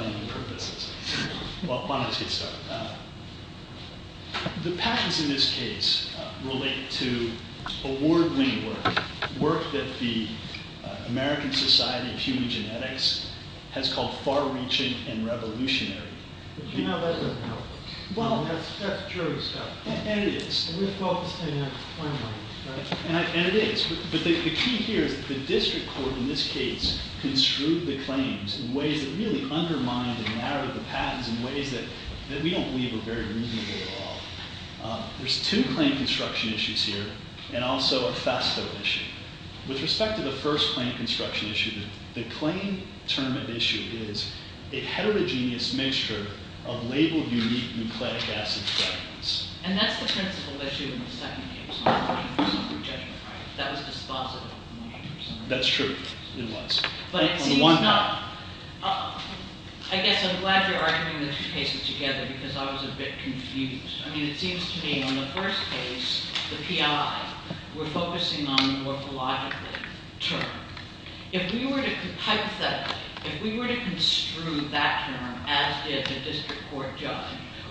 334-1202 Regents of the University of California, Dakocytomation Regents of the University of California, Dakocytomation Regents of the University of California, Dakocytomation Regents of the University of California, Dakocytomation American Society of Human Genetics, Far-Reaching and Revolutionary You know that doesn't help. That's true stuff. And we're focusing on the claims, right? And that's the principal issue in the second case. That was dispositive. That's true. It was. I guess I'm glad you're arguing the two cases together because I was a bit confused. I mean it seems to me on the first case, the PI, we're focusing on the morphologically term. If we were to, hypothetically, if we were to construe that term, as did the district court judge,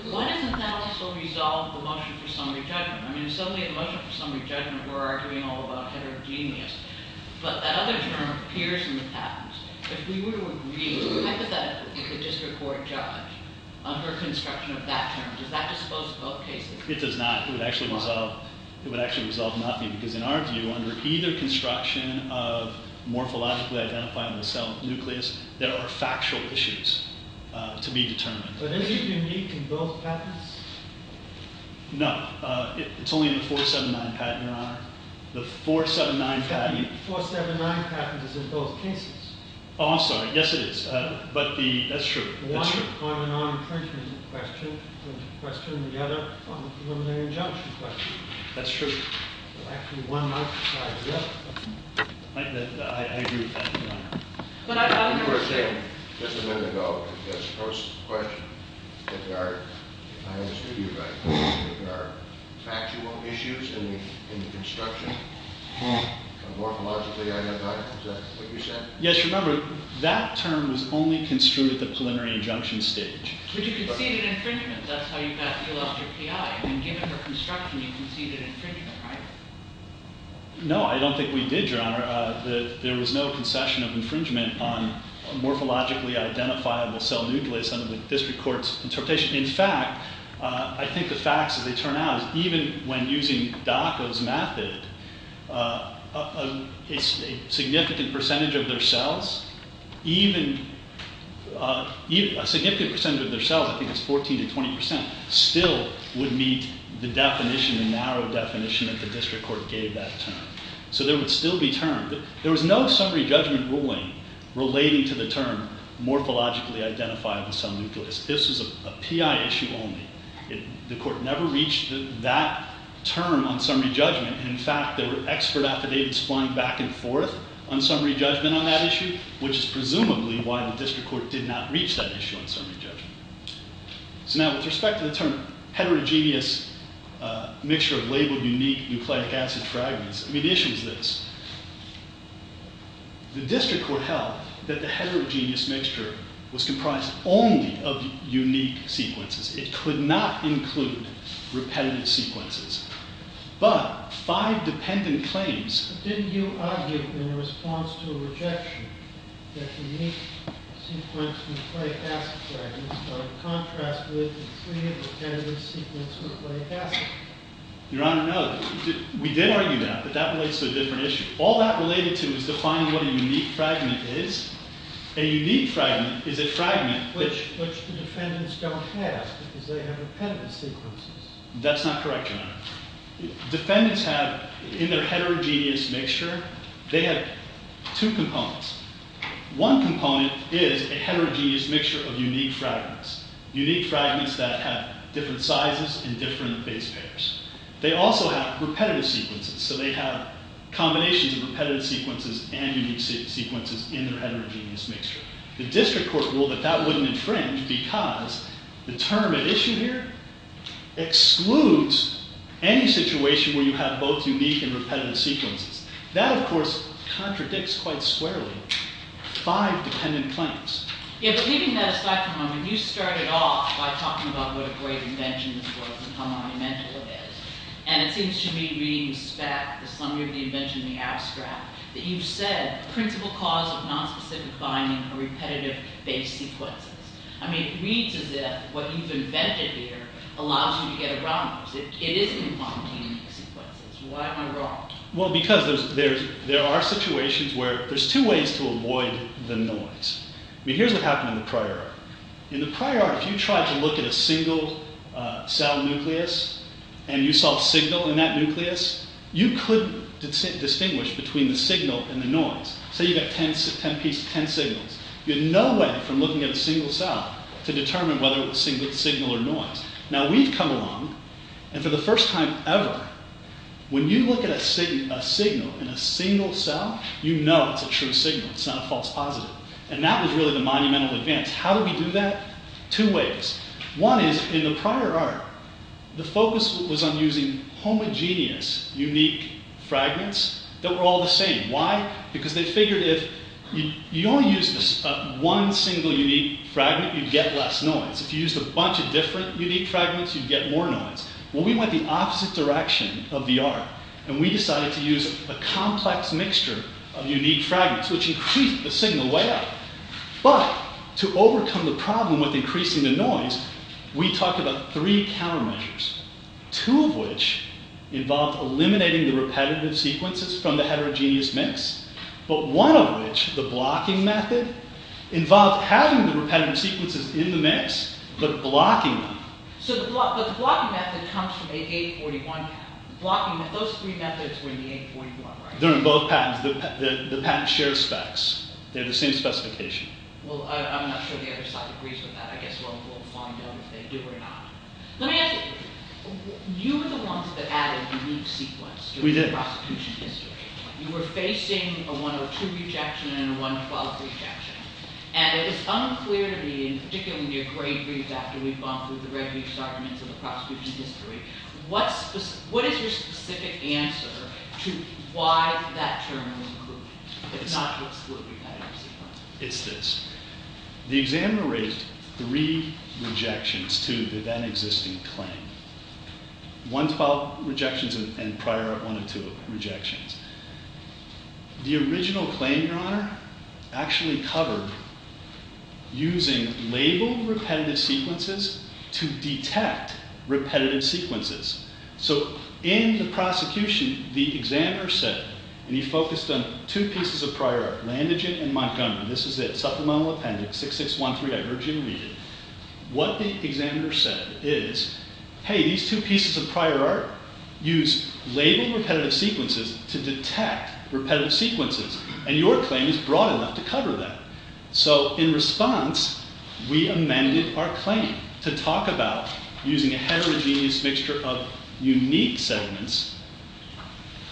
why doesn't that also resolve the motion for summary judgment? I mean, suddenly a motion for summary judgment, we're arguing all about heterogeneous. But that other term appears in the patents. If we were to agree, hypothetically, with the district court judge, under construction of that term, does that dispose of both cases? It does not. It would actually resolve nothing. Because in our view, under either construction of morphologically identifying the cell nucleus, there are factual issues to be determined. But isn't it unique in both patents? No. It's only in the 479 patent, Your Honor. The 479 patent is in both cases. Oh, I'm sorry. Yes, it is. But that's true. One on the non-imprisonment question and the other on the preliminary injunction question. That's true. There's actually one exercise left. I agree with that, Your Honor. But I don't understand. You were saying just a minute ago, as opposed to the question, that there are, I understood you right, that there are factual issues in the construction of morphologically identifying, is that what you said? Yes, remember, that term was only construed at the preliminary injunction stage. But you can see it in infringement. That's how you got to deal out your PI. And given the construction, you can see that infringement, right? No, I don't think we did, Your Honor. There was no concession of infringement on morphologically identifiable cell nucleus under the district court's interpretation. In fact, I think the facts, as they turn out, is even when using DACA's method, a significant percentage of their cells, even a significant percentage of their cells, I think it's 14 to 20 percent, still would meet the definition, the narrow definition that the district court gave that term. So there would still be terms. There was no summary judgment ruling relating to the term morphologically identifiable cell nucleus. This was a PI issue only. The court never reached that term on summary judgment. In fact, there were expert affidavits flying back and forth on summary judgment on that issue, which is presumably why the district court did not reach that issue on summary judgment. So now with respect to the term heterogeneous mixture of labeled unique nucleic acid fragments, I mean, the issue is this. The district court held that the heterogeneous mixture was comprised only of unique sequences. It could not include repetitive sequences. But five dependent claims. But didn't you argue in response to a rejection that unique sequence nucleic acid fragments are in contrast with the three dependent sequence nucleic acid fragments? Your Honor, no. We did argue that. But that relates to a different issue. All that related to is defining what a unique fragment is. A unique fragment is a fragment which the defendants don't have because they have dependent sequences. That's not correct, Your Honor. Defendants have in their heterogeneous mixture, they have two components. One component is a heterogeneous mixture of unique fragments. Unique fragments that have different sizes and different base pairs. They also have repetitive sequences. So they have combinations of repetitive sequences and unique sequences in their heterogeneous mixture. The district court ruled that that wouldn't infringe because the term at issue here excludes any situation where you have both unique and repetitive sequences. That, of course, contradicts quite squarely five dependent claims. Yeah, but leaving that aside for a moment, you started off by talking about what a great invention this was and how monumental it is. And it seems to me, reading the spec, the summary of the invention, the abstract, that you've said the principal cause of nonspecific binding are repetitive base sequences. I mean, it reads as if what you've invented here allows you to get around those. It isn't finding sequences. Why am I wrong? Well, because there are situations where there's two ways to avoid the noise. I mean, here's what happened in the prior art. In the prior art, if you tried to look at a single cell nucleus and you saw a signal in that nucleus, you couldn't distinguish between the signal and the noise. Say you've got ten pieces, ten signals. You had no way from looking at a single cell to determine whether it was a single signal or noise. Now, we've come along, and for the first time ever, when you look at a signal in a single cell, you know it's a true signal. It's not a false positive. And that was really the monumental advance. How do we do that? Two ways. One is, in the prior art, the focus was on using homogeneous unique fragments that were all the same. Why? Because they figured if you only used one single unique fragment, you'd get less noise. If you used a bunch of different unique fragments, you'd get more noise. Well, we went the opposite direction of the art, and we decided to use a complex mixture of unique fragments, which increased the signal way up. But, to overcome the problem with increasing the noise, we talked about three countermeasures, two of which involved eliminating the repetitive sequences from the heterogeneous mix, but one of which, the blocking method, involved having the repetitive sequences in the mix, but blocking them. But the blocking method comes from a 841 patent. Those three methods were in the 841, right? They're in both patents. The patents share specs. They have the same specification. Well, I'm not sure the other side agrees with that. I guess we'll find out if they do or not. Let me ask you. You were the ones that added a unique sequence to the prosecution history. You were facing a 102 rejection and a 112 rejection, and it was unclear to me, particularly in your great briefs after we bumped with the red-leafed arguments of the prosecution history, what is your specific answer to why that term was included, but not excluded? It's this. The examiner raised three rejections to the then-existing claim, 112 rejections and prior art 102 rejections. The original claim, Your Honor, actually covered using labeled repetitive sequences to detect repetitive sequences. So in the prosecution, the examiner said, and he focused on two pieces of prior art, Landagen and Montgomery. This is it. Supplemental Appendix 6613. I urge you to read it. What the examiner said is, hey, these two pieces of prior art use labeled repetitive sequences to detect repetitive sequences, and your claim is broad enough to cover that. So in response, we amended our claim to talk about using a heterogeneous mixture of unique segments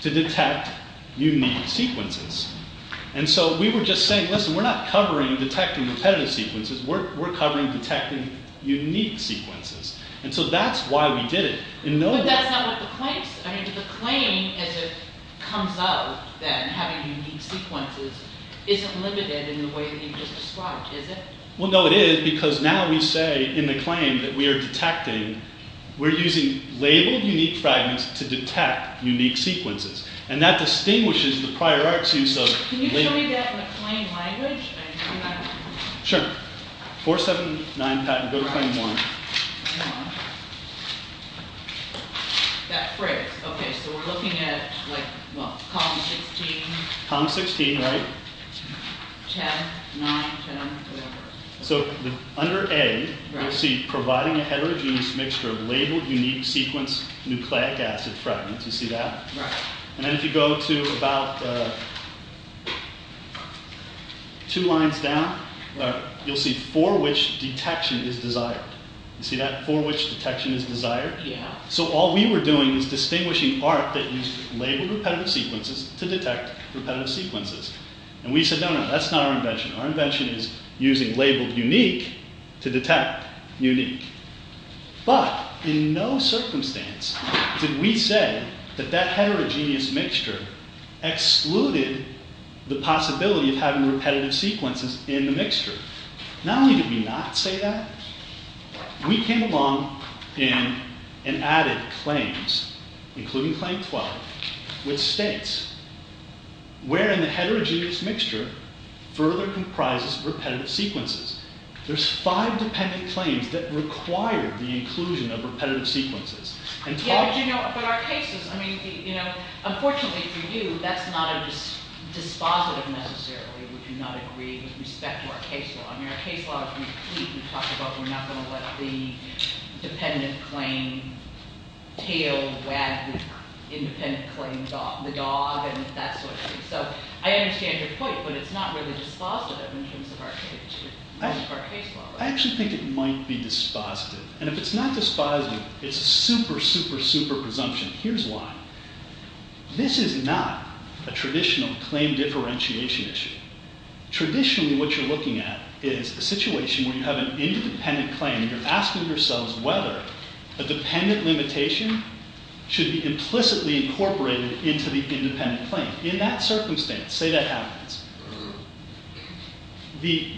to detect unique sequences. And so we were just saying, listen, we're not covering detecting repetitive sequences. We're covering detecting unique sequences. And so that's why we did it. But that's not what the claim says. I mean, the claim as it comes out, then, having unique sequences, isn't limited in the way that you just described, is it? Well, no, it is, because now we say in the claim that we are detecting, we're using labeled unique fragments to detect unique sequences. And that distinguishes the prior art's use of labeled. Can you show me that in the claim language? Sure. 479, go to claim 1. That phrase, okay, so we're looking at, like, what, column 16? Column 16, right. 10, 9, 10, 11. So under A, you'll see providing a heterogeneous mixture of labeled unique sequence nucleic acid fragments. You see that? Right. And then if you go to about two lines down, you'll see for which detection is desired. You see that, for which detection is desired? Yeah. So all we were doing was distinguishing art that used labeled repetitive sequences to detect repetitive sequences. And we said, no, no, that's not our invention. Our invention is using labeled unique to detect unique. But in no circumstance did we say that that heterogeneous mixture excluded the possibility of having repetitive sequences in the mixture. Not only did we not say that, we came along and added claims, including claim 12, with states, wherein the heterogeneous mixture further comprises repetitive sequences. There's five dependent claims that require the inclusion of repetitive sequences. Yeah, but you know, but our cases, I mean, you know, unfortunately for you, that's not a dispositive necessarily. We do not agree with respect to our case law. I mean, our case law, we talked about we're not going to let the dependent claim tail wag the independent claim dog, the dog, and that sort of thing. So I understand your point, but it's not really dispositive in terms of our case law. I actually think it might be dispositive. And if it's not dispositive, it's a super, super, super presumption. Here's why. This is not a traditional claim differentiation issue. Traditionally, what you're looking at is a situation where you have an independent claim, and you're asking yourselves whether a dependent limitation should be implicitly incorporated into the independent claim. In that circumstance, say that happens, the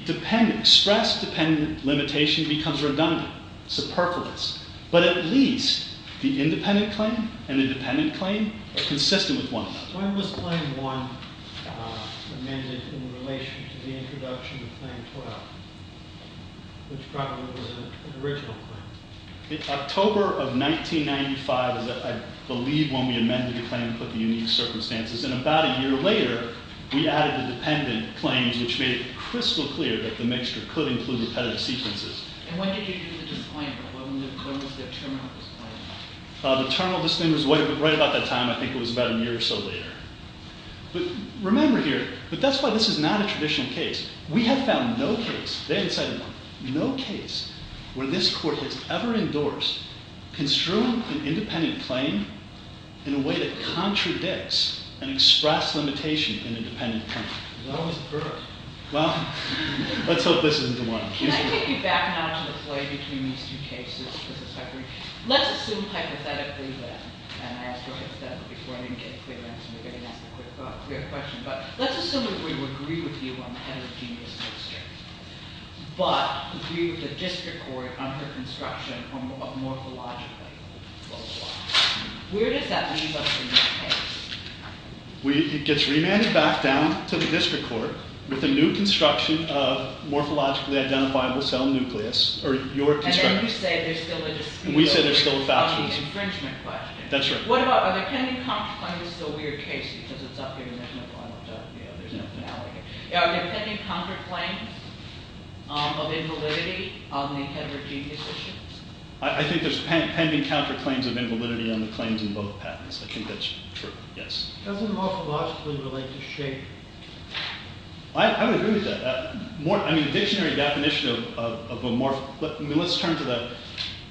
stress dependent limitation becomes redundant, superfluous. But at least the independent claim and the dependent claim are consistent with one another. When was Claim 1 amended in relation to the introduction of Claim 12, which probably was an original claim? October of 1995 is, I believe, when we amended the claim and put the unique circumstances. And about a year later, we added the dependent claims, which made it crystal clear that the mixture could include repetitive sequences. And when did you do the disclaimer? When was the terminal disclaimer? The terminal disclaimer was right about that time. I think it was about a year or so later. But remember here, that's why this is not a traditional case. We have found no case, Dan said it, no case where this court has ever endorsed construing an independent claim in a way that contradicts an express limitation in a dependent claim. Well, let's hope this isn't the one. Can I take you back now to the play between these two cases? Let's assume hypothetically that, and I also have said it before, I didn't get a clear answer. Let's assume that we would agree with you on the heterogeneous mixture, but agree with the district court on her construction of morphologically localized. Where does that leave us in this case? It gets remanded back down to the district court with a new construction of morphologically identifiable cell nucleus, or your construction. And then you say there's still a dispute on the infringement question. Are there pending counterclaims of invalidity on the heterogeneous issues? I think there's pending counterclaims of invalidity on the claims in both patents. I think that's true, yes. Doesn't morphologically relate to shape? I would agree with that. I mean, the dictionary definition of a morph, let's turn to the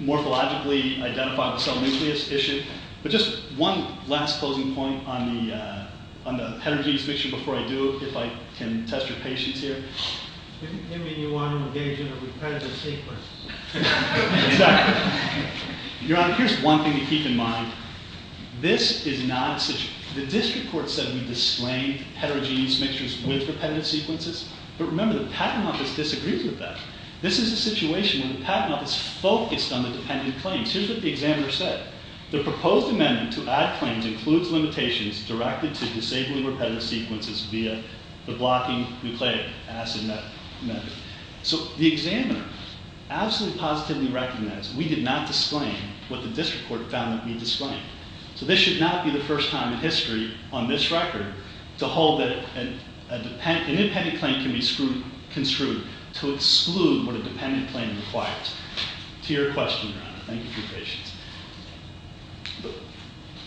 morphologically identifiable cell nucleus issue. But just one last closing point on the heterogeneous mixture before I do, if I can test your patience here. Didn't he mean you want to engage in a repetitive sequence? Exactly. Your Honor, here's one thing to keep in mind. The district court said we disclaimed heterogeneous mixtures with repetitive sequences. But remember, the patent office disagrees with that. This is a situation where the patent office focused on the dependent claims. Here's what the examiner said. The proposed amendment to add claims includes limitations directed to disabling repetitive sequences via the blocking nucleic acid method. So the examiner absolutely positively recognized we did not disclaim what the district court found that we disclaimed. So this should not be the first time in history on this record to hold that an independent claim can be construed to exclude what a dependent claim requires. To your question, Your Honor, thank you for your patience.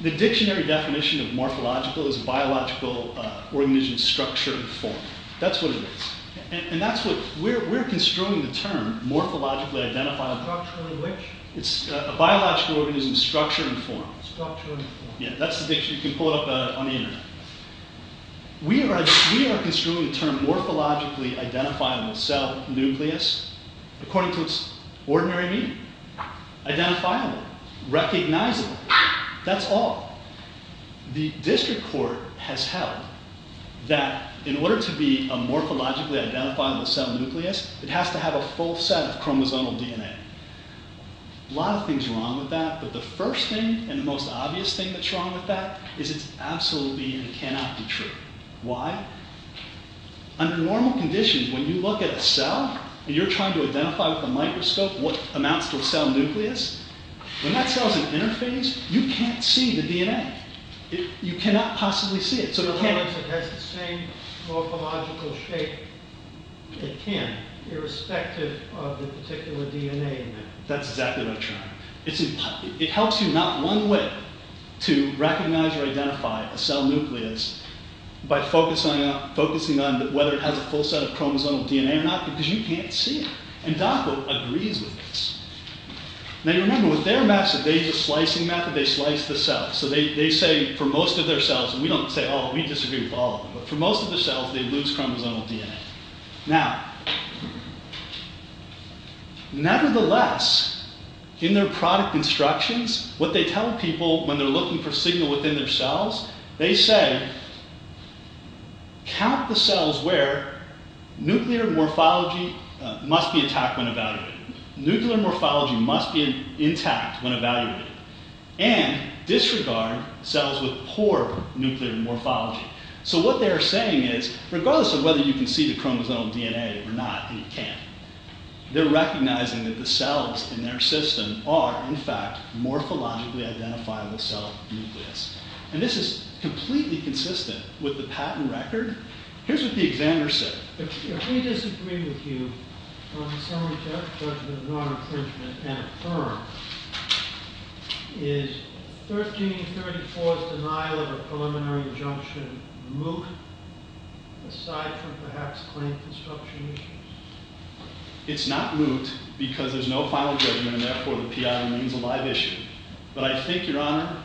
The dictionary definition of morphological is biological organism's structure and form. That's what it is. And that's what we're construing the term morphologically identifiable. Structure in which? It's a biological organism's structure and form. Structure and form. Yeah, that's the dictionary. You can pull it up on the Internet. We are construing the term morphologically identifiable cell nucleus according to its ordinary meaning. Identifiable, recognizable. That's all. The district court has held that in order to be a morphologically identifiable cell nucleus, it has to have a full set of chromosomal DNA. A lot of things wrong with that, but the first thing and the most obvious thing that's wrong with that is it's absolutely and cannot be true. Why? Under normal conditions, when you look at a cell and you're trying to identify with a microscope what amounts to a cell nucleus, when that cell is in interphase, you can't see the DNA. You cannot possibly see it. So in other words, it has the same morphological shape it can, irrespective of the particular DNA in there. That's exactly what I'm trying. It helps you not one way to recognize or identify a cell nucleus by focusing on whether it has a full set of chromosomal DNA or not, because you can't see it. And DACA agrees with this. Now, you remember, with their method, they use a slicing method. They slice the cells. So they say, for most of their cells, and we don't say, oh, we disagree with all of them, but for most of their cells, they lose chromosomal DNA. Now, nevertheless, in their product instructions, what they tell people when they're looking for signal within their cells, they say, count the cells where nuclear morphology must be intact when evaluated. Nuclear morphology must be intact when evaluated. And disregard cells with poor nuclear morphology. So what they're saying is, regardless of whether you can see the chromosomal DNA or not, and you can't, they're recognizing that the cells in their system are, in fact, morphologically identifiable cell nucleus. And this is completely consistent with the patent record. Here's what the examiner said. If we disagree with you on the summary judgment of non-accreditment and affirm, is 1334's denial of a preliminary injunction moot, aside from, perhaps, claim construction issues? It's not moot, because there's no final judgment, and therefore, the PI remains a live issue. But I think, Your Honor,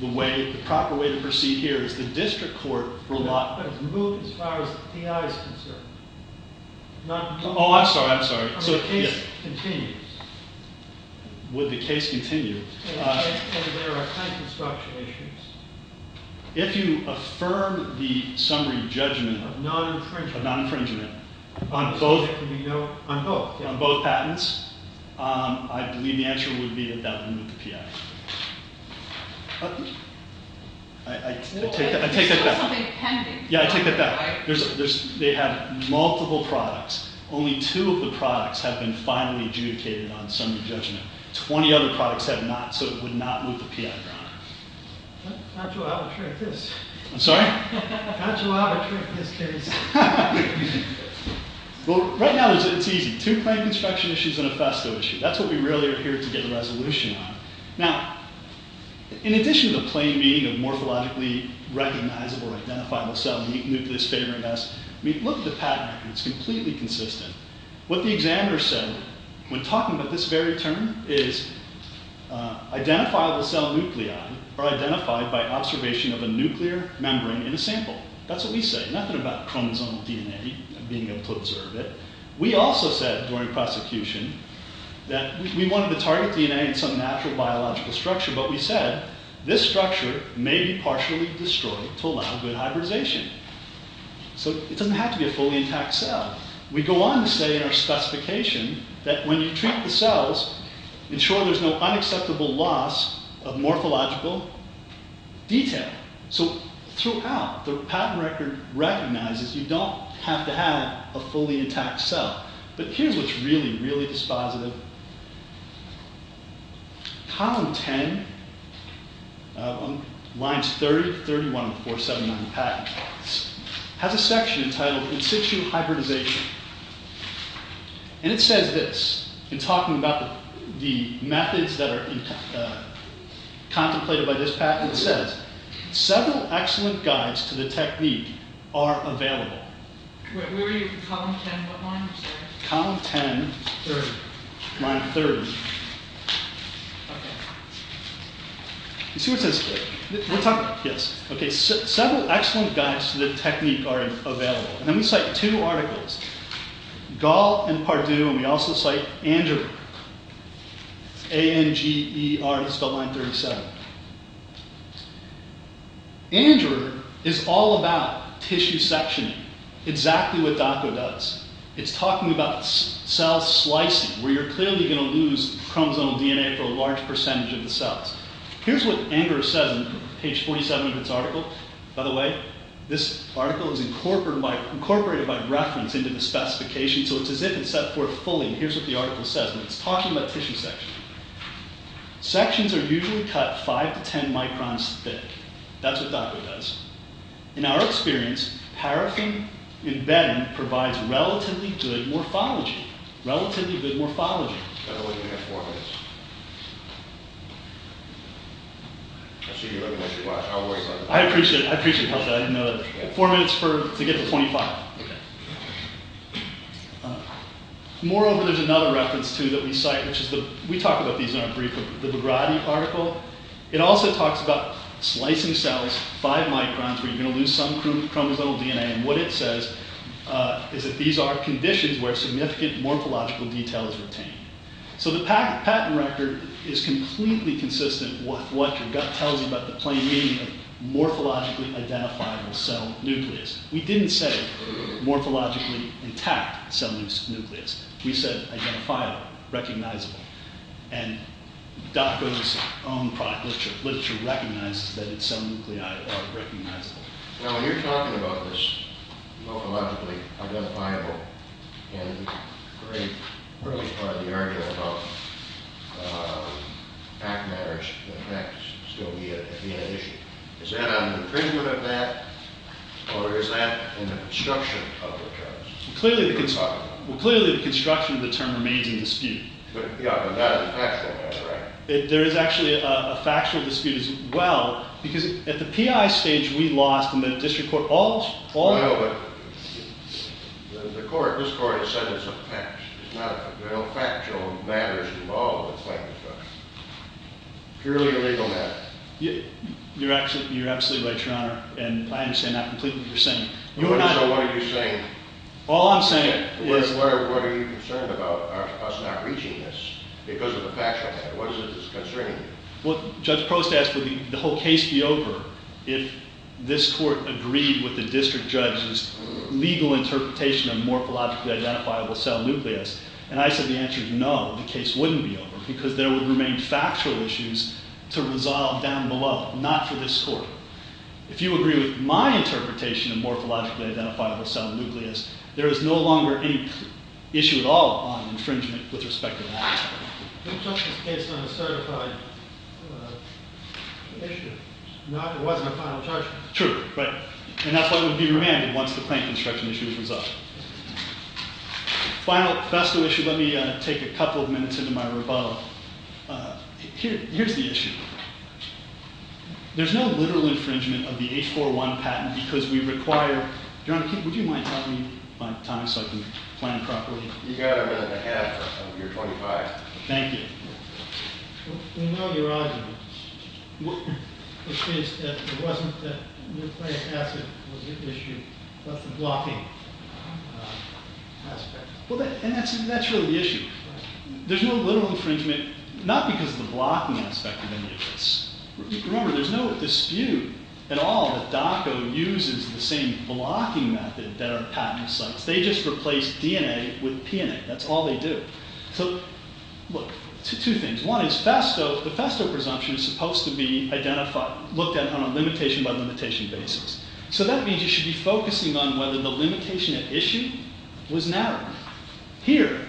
the proper way to proceed here is the district court will not move as far as the PI is concerned. Oh, I'm sorry, I'm sorry. So the case continues. Would the case continue? And there are patent construction issues. If you affirm the summary judgment of non-infringement on both patents, I believe the answer would be that that would move the PI. I take that back. Yeah, I take that back. They have multiple products. Only two of the products have been finally adjudicated on summary judgment. Twenty other products have not, so it would not move the PI, Your Honor. Not too out of track, this. I'm sorry? Not too out of track, this case. Well, right now, it's easy. Two claim construction issues and a FASTO issue. That's what we really are here to get a resolution on. Now, in addition to the plain meaning of morphologically recognizable identifiable cell nucleus favoring us, look at the patent. It's completely consistent. What the examiner said when talking about this very term is identifiable cell nuclei are identified by observation of a nuclear membrane in a sample. That's what we say. Nothing about chromosomal DNA and being able to observe it. We also said during prosecution that we wanted to target DNA in some natural biological structure, but we said this structure may be partially destroyed to allow good hybridization. So it doesn't have to be a fully intact cell. We go on to say in our specification that when you treat the cells, ensure there's no unacceptable loss of morphological detail. So throughout, the patent record recognizes you don't have to have a fully intact cell. But here's what's really, really dispositive. Column 10, lines 30 to 31 of 479 of the patent has a section entitled constituent hybridization. And it says this in talking about the methods that are contemplated by this patent. It says, several excellent guides to the technique are available. Where are you? Column 10, what line are you saying? Column 10, line 30. Several excellent guides to the technique are available. And then we cite two articles, Gall and Pardue, and we also cite Angerer. A-N-G-E-R, it's spelled line 37. Angerer is all about tissue sectioning, exactly what DACO does. It's talking about cell slicing, where you're clearly going to lose chromosomal DNA for a large percentage of the cells. Here's what Angerer says on page 47 of its article. By the way, this article is incorporated by reference into the specification, so it's as if it's set forth fully. Here's what the article says, and it's talking about tissue sectioning. Sections are usually cut 5 to 10 microns thick. That's what DACO does. In our experience, paraffin embedding provides relatively good morphology. Relatively good morphology. I appreciate that. I didn't know that. Four minutes to get to 25. Okay. Moreover, there's another reference, too, that we cite. We talk about these in our brief, the Bagrati article. It also talks about slicing cells 5 microns where you're going to lose some chromosomal DNA, and what it says is that these are conditions where significant morphological detail is retained. So the patent record is completely consistent with what your gut tells you about the plain meaning of morphologically identifying a cell nucleus. We didn't say morphologically intact cell nucleus. We said identifiable, recognizable. And DACO's own literature recognizes that its cell nuclei are recognizable. Now, when you're talking about this morphologically identifiable, in the very early part of the argument about fact matters, the fact is still the issue. Is that an infringement of that, or is that in the construction of the charge? Well, clearly the construction of the term remains in dispute. Yeah, but that is a factual matter, right? There is actually a factual dispute as well, because at the PI stage, we lost in the district court all of it. Well, but the court, this court, has said it's a fact. There's no factual matters involved with fact construction. Purely a legal matter. You're absolutely right, Your Honor. And I understand not completely what you're saying. So what are you saying? All I'm saying is— What are you concerned about, us not reaching this, because of the factual matter? What is it that's concerning you? Well, Judge Prost asked, would the whole case be over if this court agreed with the district judge's legal interpretation of morphologically identifiable cell nucleus? And I said the answer is no, the case wouldn't be over, because there would remain factual issues to resolve down below, not for this court. If you agree with my interpretation of morphologically identifiable cell nucleus, there is no longer any issue at all on infringement with respect to that. We took this case on a certified issue. It wasn't a final judgment. True, right? And that's why it would be remanded once the claim construction issue is resolved. Final professor issue. Let me take a couple of minutes into my rebuttal. Here's the issue. There's no literal infringement of the 841 patent, because we require— Your Honor, would you mind telling me my time so I can plan properly? You've got a minute and a half. You're 25. Thank you. We know your argument. It states that it wasn't that nucleic acid was the issue, but the blocking aspect. And that's really the issue. There's no literal infringement, not because of the blocking aspect of any of this. Remember, there's no dispute at all that DOCO uses the same blocking method that our patent sites. They just replace DNA with PNA. That's all they do. So, look, two things. One is, the FASTO presumption is supposed to be looked at on a limitation-by-limitation basis. So that means you should be focusing on whether the limitation at issue was narrowed. Here,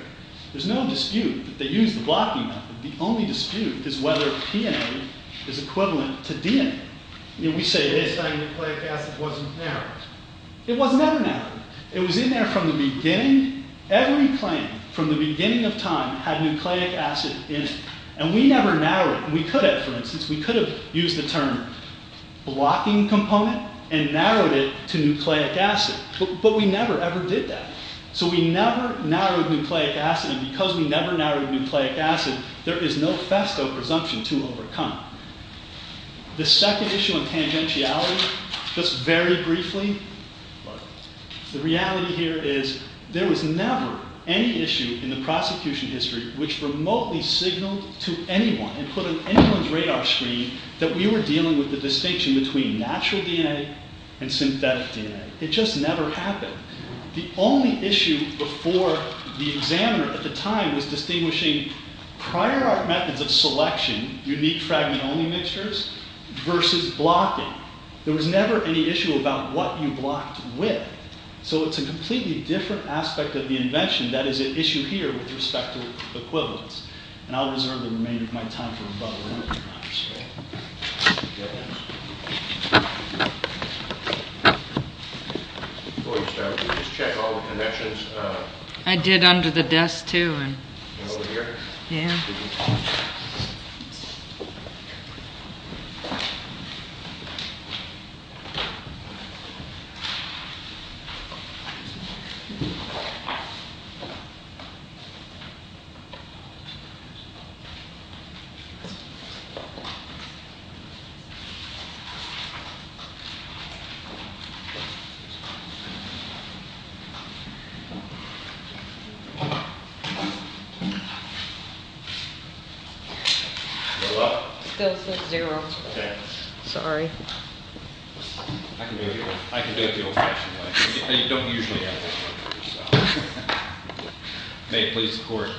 there's no dispute that they used the blocking method. The only dispute is whether PNA is equivalent to DNA. We say it is. It's like nucleic acid wasn't narrowed. It was in there from the beginning. Every plant, from the beginning of time, had nucleic acid in it. And we never narrowed it. We could have, for instance. We could have used the term blocking component and narrowed it to nucleic acid. But we never ever did that. So we never narrowed nucleic acid. And because we never narrowed nucleic acid, there is no FASTO presumption to overcome. The second issue on tangentiality, just very briefly. The reality here is, there was never any issue in the prosecution history which remotely signaled to anyone and put on anyone's radar screen that we were dealing with the distinction between natural DNA and synthetic DNA. It just never happened. The only issue before the examiner at the time was distinguishing prior art methods of selection, unique fragment-only mixtures, versus blocking. There was never any issue about what you blocked with. So it's a completely different aspect of the invention. That is an issue here with respect to equivalence. And I'll reserve the remainder of my time for the above. I did under the desk too. Over here? Yeah. Okay. Still says zero. Okay. Sorry. I can do it the old-fashioned way. I don't usually ask this question. May it please the Court.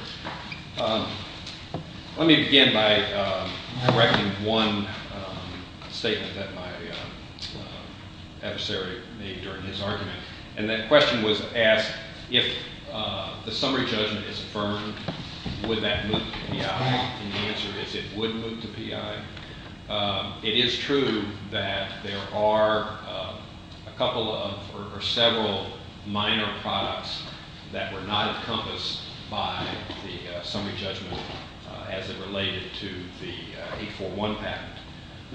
Let me begin by correcting one statement that my adversary made during his argument. And that question was asked, if the summary judgment is affirmed, would that move to PI? And the answer is it would move to PI. It is true that there are a couple of or several minor products that were not encompassed by the summary judgment as it related to the 841 patent.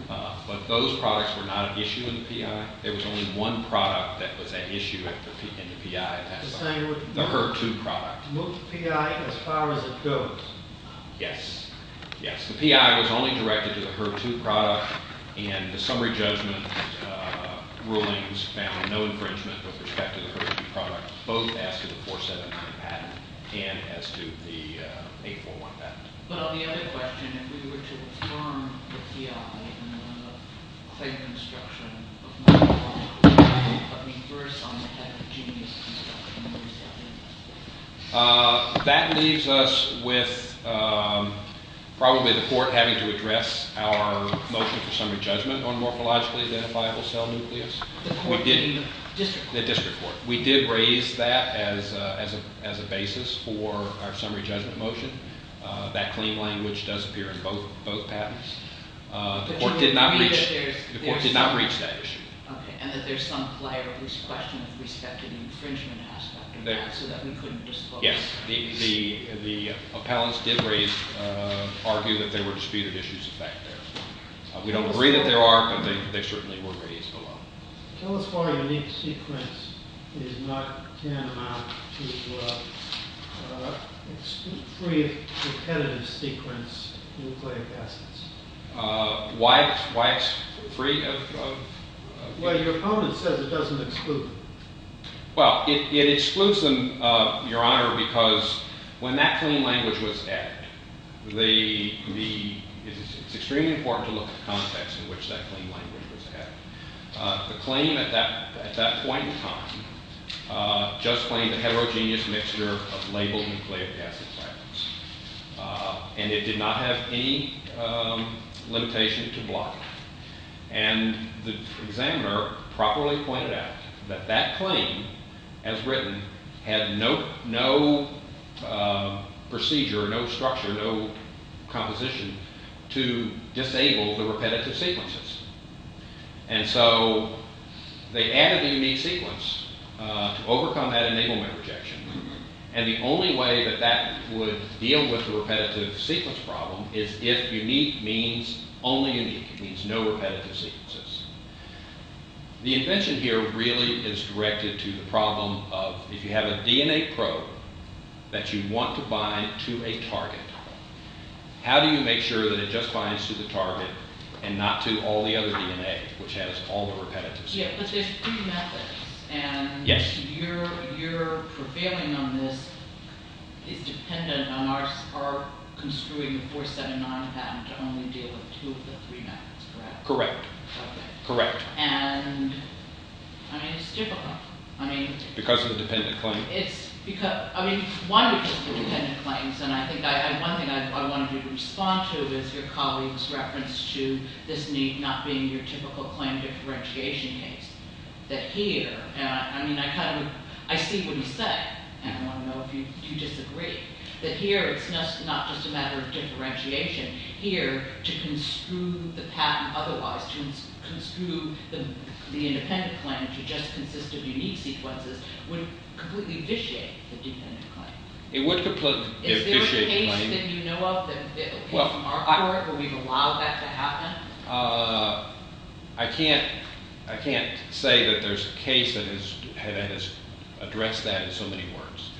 But those products were not an issue in the PI. There was only one product that was an issue in the PI. The HER2 product. Move to PI as far as it goes. Yes. Yes. The PI was only directed to the HER2 product. And the summary judgment rulings found no infringement with respect to the HER2 product, both as to the 417 patent and as to the 841 patent. But on the other question, if we were to affirm the PI in the claim construction of morphological identifiable cell nucleus, let me first on the heterogeneous construction of the cell nucleus. That leaves us with probably the Court having to address our motion for summary judgment on morphologically identifiable cell nucleus. We didn't. The District Court. The District Court. We did raise that as a basis for our summary judgment motion. That claim language does appear in both patents. The Court did not reach that issue. Okay. And that there's some player of this question with respect to the infringement aspect of that, so that we couldn't just focus. Yes. The appellants did argue that there were disputed issues back there. We don't agree that there are, but they certainly were raised below. Tell us why unique sequence is not tantamount to free of repetitive sequence nucleic acids. Why it's free of? Well, your opponent says it doesn't exclude. Well, it excludes them, Your Honor, because when that claim language was added, it's extremely important to look at the context in which that claim language was added. The claim at that point in time just claimed a heterogeneous mixture of labeled nucleic acid atoms, and it did not have any limitation to block. And the examiner properly pointed out that that claim, as written, had no procedure, no structure, no composition to disable the repetitive sequences. And so they added the unique sequence to overcome that enablement rejection. And the only way that that would deal with the repetitive sequence problem is if unique means only unique. It means no repetitive sequences. The invention here really is directed to the problem of if you have a DNA probe that you want to bind to a target, how do you make sure that it just binds to the target and not to all the other DNA, which has all the repetitive sequence? Yeah, but there's three methods, and your prevailing on this is dependent on our construing the 479 patent to only deal with two of the three methods, correct? Correct. And, I mean, it's difficult. Because of the dependent claim? It's because, I mean, one of the dependent claims, and I think one thing I wanted you to respond to is your colleague's reference to this need not being your typical claim differentiation case, that here, and I mean, I kind of, I see what you say, and I want to know if you disagree, that here, it's not just a matter of differentiation. Here, to construe the patent otherwise, to construe the independent claim to just consist of unique sequences would completely vitiate the dependent claim. It would completely vitiate the claim. Is there a case that you know of that came from our court where we've allowed that to happen? I can't say that there's a case that has addressed that in so many words.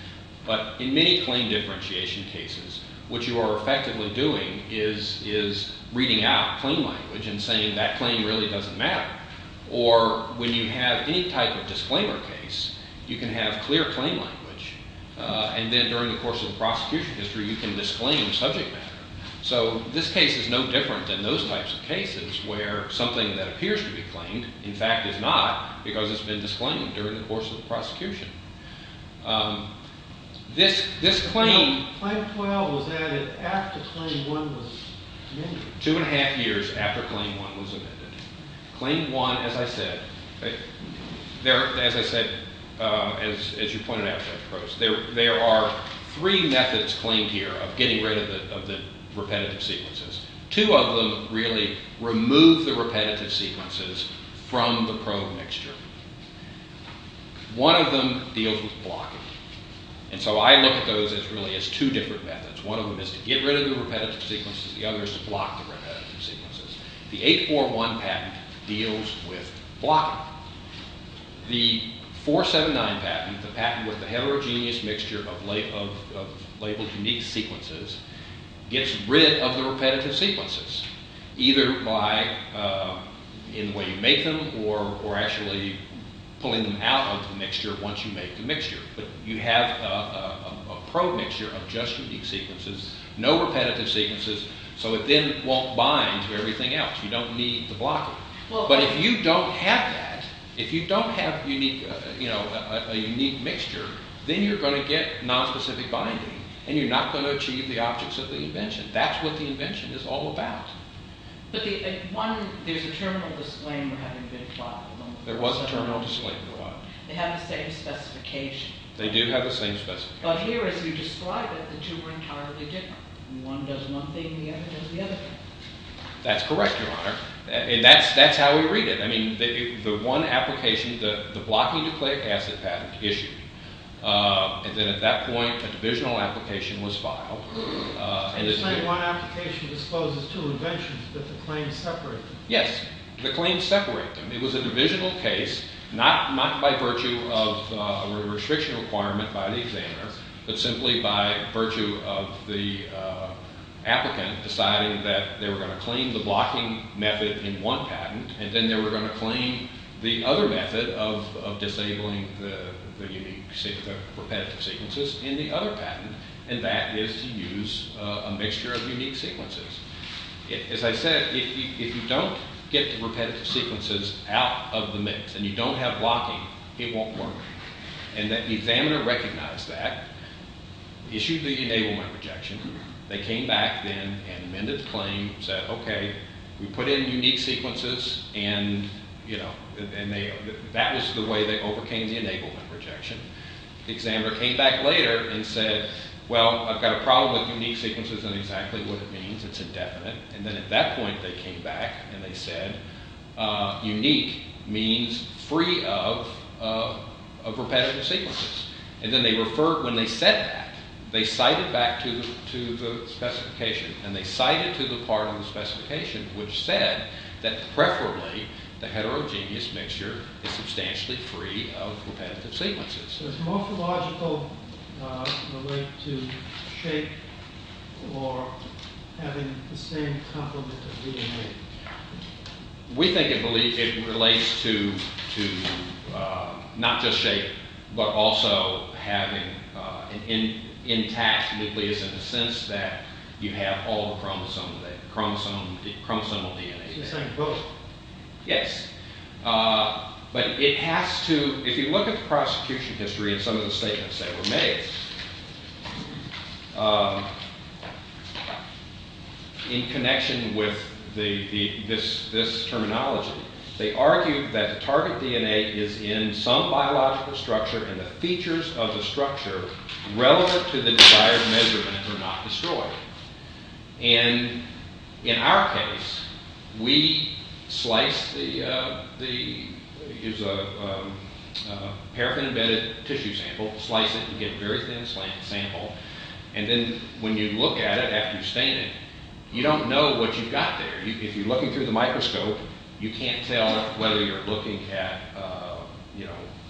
But in many claim differentiation cases, what you are effectively doing is reading out claim language and saying that claim really doesn't matter. Or when you have any type of disclaimer case, you can have clear claim language. And then during the course of the prosecution history, you can disclaim subject matter. So this case is no different than those types of cases where something that appears to be claimed, in fact, is not because it's been disclaimed during the course of the prosecution. This claim... Claim 12 was added after Claim 1 was amended. Two and a half years after Claim 1 was amended. Claim 1, as I said, as you pointed out, there are three methods claimed here of getting rid of the repetitive sequences. Two of them really remove the repetitive sequences from the probe mixture. One of them deals with blocking. And so I look at those really as two different methods. One of them is to get rid of the repetitive sequences. The other is to block the repetitive sequences. The 841 patent deals with blocking. The 479 patent, the patent with the heterogeneous mixture of labeled unique sequences, gets rid of the repetitive sequences. Either by the way you make them or actually pulling them out of the mixture once you make the mixture. But you have a probe mixture of just unique sequences. No repetitive sequences. So it then won't bind to everything else. You don't need to block it. But if you don't have that, if you don't have a unique mixture, then you're going to get nonspecific binding. And you're not going to achieve the objects of the invention. That's what the invention is all about. But one, there's a terminal disclaimer having been applied. There was a terminal disclaimer. They have the same specification. They do have the same specification. But here as you describe it, the two are entirely different. One does one thing and the other does the other thing. That's correct, Your Honor. And that's how we read it. I mean the one application, the blocking nucleic acid patent issued, and then at that point a divisional application was filed. Are you saying one application discloses two inventions, but the claims separate them? Yes, the claims separate them. It was a divisional case, not by virtue of a restriction requirement by the examiner, but simply by virtue of the applicant deciding that they were going to claim the blocking method in one patent, and then they were going to claim the other method of disabling the repetitive sequences in the other patent. And that is to use a mixture of unique sequences. As I said, if you don't get the repetitive sequences out of the mix and you don't have blocking, it won't work. And the examiner recognized that, issued the enablement rejection. They came back then and amended the claim and said, okay, we put in unique sequences, and that was the way they overcame the enablement rejection. The examiner came back later and said, well, I've got a problem with unique sequences. I don't know exactly what it means. It's indefinite. And then at that point they came back and they said, unique means free of repetitive sequences. And then they referred, when they said that, they cited back to the specification, and they cited to the part of the specification which said that preferably the heterogeneous mixture is substantially free of repetitive sequences. Does morphological relate to shape or having the same complement of DNA? We think it relates to not just shape but also having an intact nucleus in the sense that you have all the chromosomal DNA. So you're saying both? Yes. But it has to, if you look at the prosecution history and some of the statements that were made, in connection with this terminology, they argued that the target DNA is in some biological structure and the features of the structure relevant to the desired measurement are not destroyed. And in our case, we sliced the, it was a paraffin-embedded tissue sample, sliced it to get a very thin sample, and then when you look at it after you've stained it, you don't know what you've got there. If you're looking through the microscope, you can't tell whether you're looking at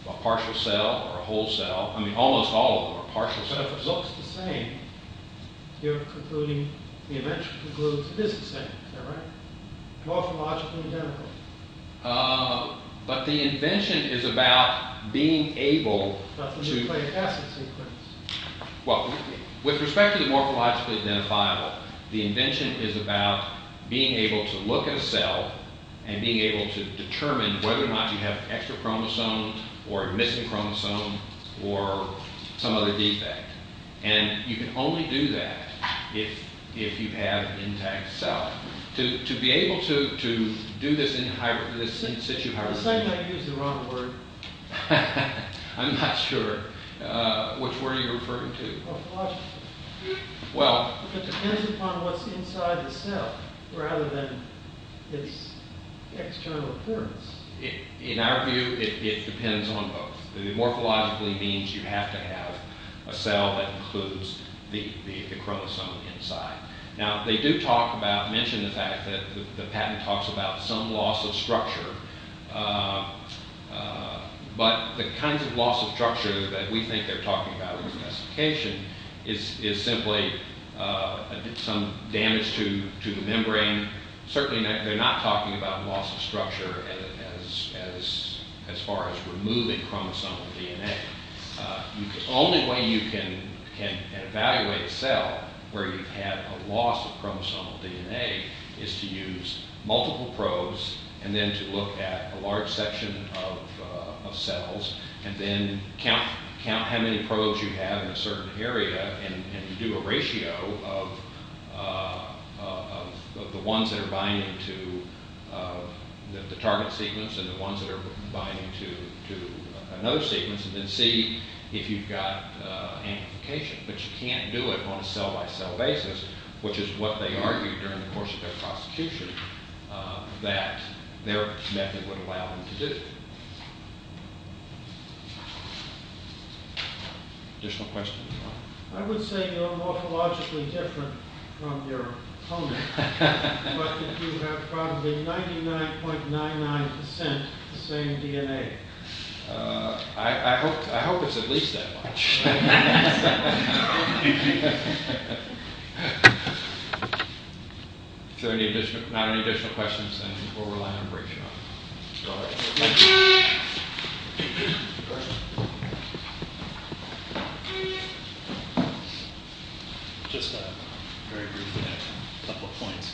a partial cell or a whole cell. I mean, almost all of them are partial cells. So if it looks the same, you're concluding, the invention concludes it is the same. Is that right? Morphologically identical. But the invention is about being able to... About the nucleic acid sequence. Well, with respect to the morphologically identifiable, the invention is about being able to look at a cell and being able to determine whether or not you have extra chromosomes or a missing chromosome or some other defect. And you can only do that if you have an intact cell. To be able to do this in situ... At the same time, you used the wrong word. I'm not sure which word you're referring to. It depends upon what's inside the cell rather than its external appearance. In our view, it depends on both. Morphologically means you have to have a cell that includes the chromosome inside. Now, they do talk about, mention the fact that the patent talks about some loss of structure. But the kinds of loss of structure that we think they're talking about in the specification is simply some damage to the membrane. Certainly, they're not talking about loss of structure as far as removing chromosomal DNA. The only way you can evaluate a cell where you have a loss of chromosomal DNA is to use multiple probes and then to look at a large section of cells and then count how many probes you have in a certain area and do a ratio of the ones that are binding to the target sequence and the ones that are binding to another sequence and then see if you've got amplification. But you can't do it on a cell-by-cell basis, which is what they argued during the course of their prosecution, that their method would allow them to do. Additional questions? I would say you're morphologically different from your opponent, but that you have probably 99.99% the same DNA. I hope it's at least that much. If there are not any additional questions, then we'll rely on a break. Just a couple of points.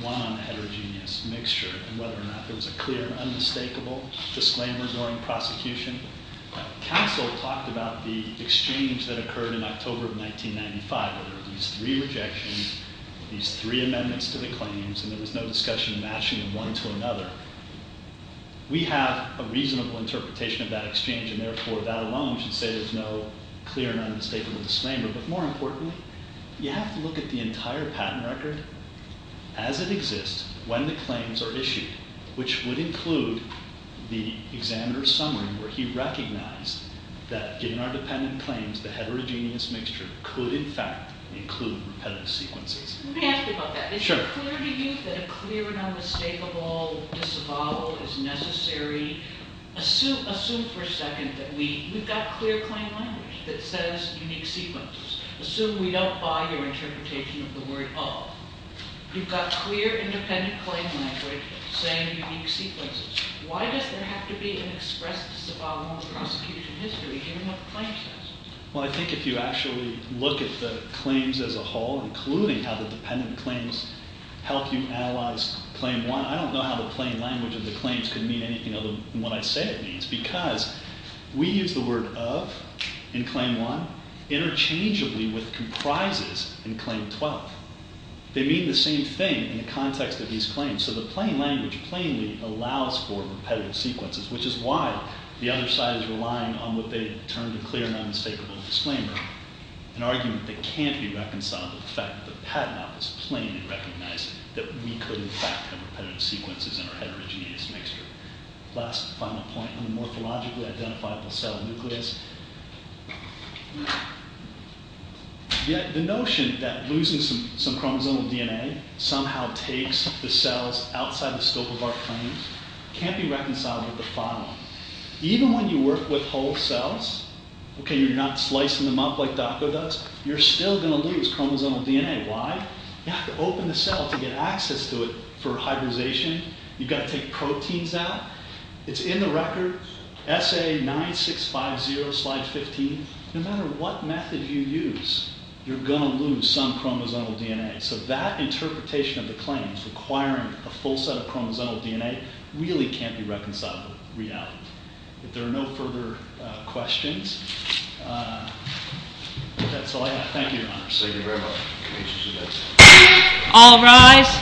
One on the heterogeneous mixture and whether or not there was a clear, unmistakable disclaimer during prosecution. Counsel talked about the exchange that occurred in October of 1995, where there were these three rejections, these three amendments to the claims, and there was no discussion of matching them one to another. We have a reasonable interpretation of that exchange, and therefore that alone should say there's no clear and unmistakable disclaimer. But more importantly, you have to look at the entire patent record as it exists, when the claims are issued, which would include the examiner's summary where he recognized that, given our dependent claims, the heterogeneous mixture could, in fact, include repetitive sequences. Let me ask you about that. Is it clear to you that a clear and unmistakable disavowal is necessary? Assume for a second that we've got clear claim language that says unique sequences. Assume we don't buy your interpretation of the word of. You've got clear independent claim language saying unique sequences. Why does there have to be an express disavowal in the prosecution history, given what the claim says? Well, I think if you actually look at the claims as a whole, including how the dependent claims help you analyze Claim 1, I don't know how the plain language of the claims could mean anything other than what I say it means because we use the word of in Claim 1 interchangeably with comprises in Claim 12. They mean the same thing in the context of these claims, so the plain language plainly allows for repetitive sequences, which is why the other side is relying on what they termed a clear and unmistakable disclaimer, an argument that can't be reconciled with the fact that Pat and I was plain in recognizing that we could, in fact, have repetitive sequences in our heterogeneous mixture. Last final point on the morphologically identifiable cell nucleus. Yet the notion that losing some chromosomal DNA somehow takes the cells outside the scope of our claims can't be reconciled with the following. Even when you work with whole cells, okay, you're not slicing them up like Dr. Dux, you're still going to lose chromosomal DNA. Why? You have to open the cell to get access to it for hybridization. You've got to take proteins out. It's in the record, SA9650, slide 15. No matter what method you use, you're going to lose some chromosomal DNA. So that interpretation of the claims requiring a full set of chromosomal DNA really can't be reconciled with reality. If there are no further questions, that's all I have. Thank you, Your Honor. Thank you very much. All rise.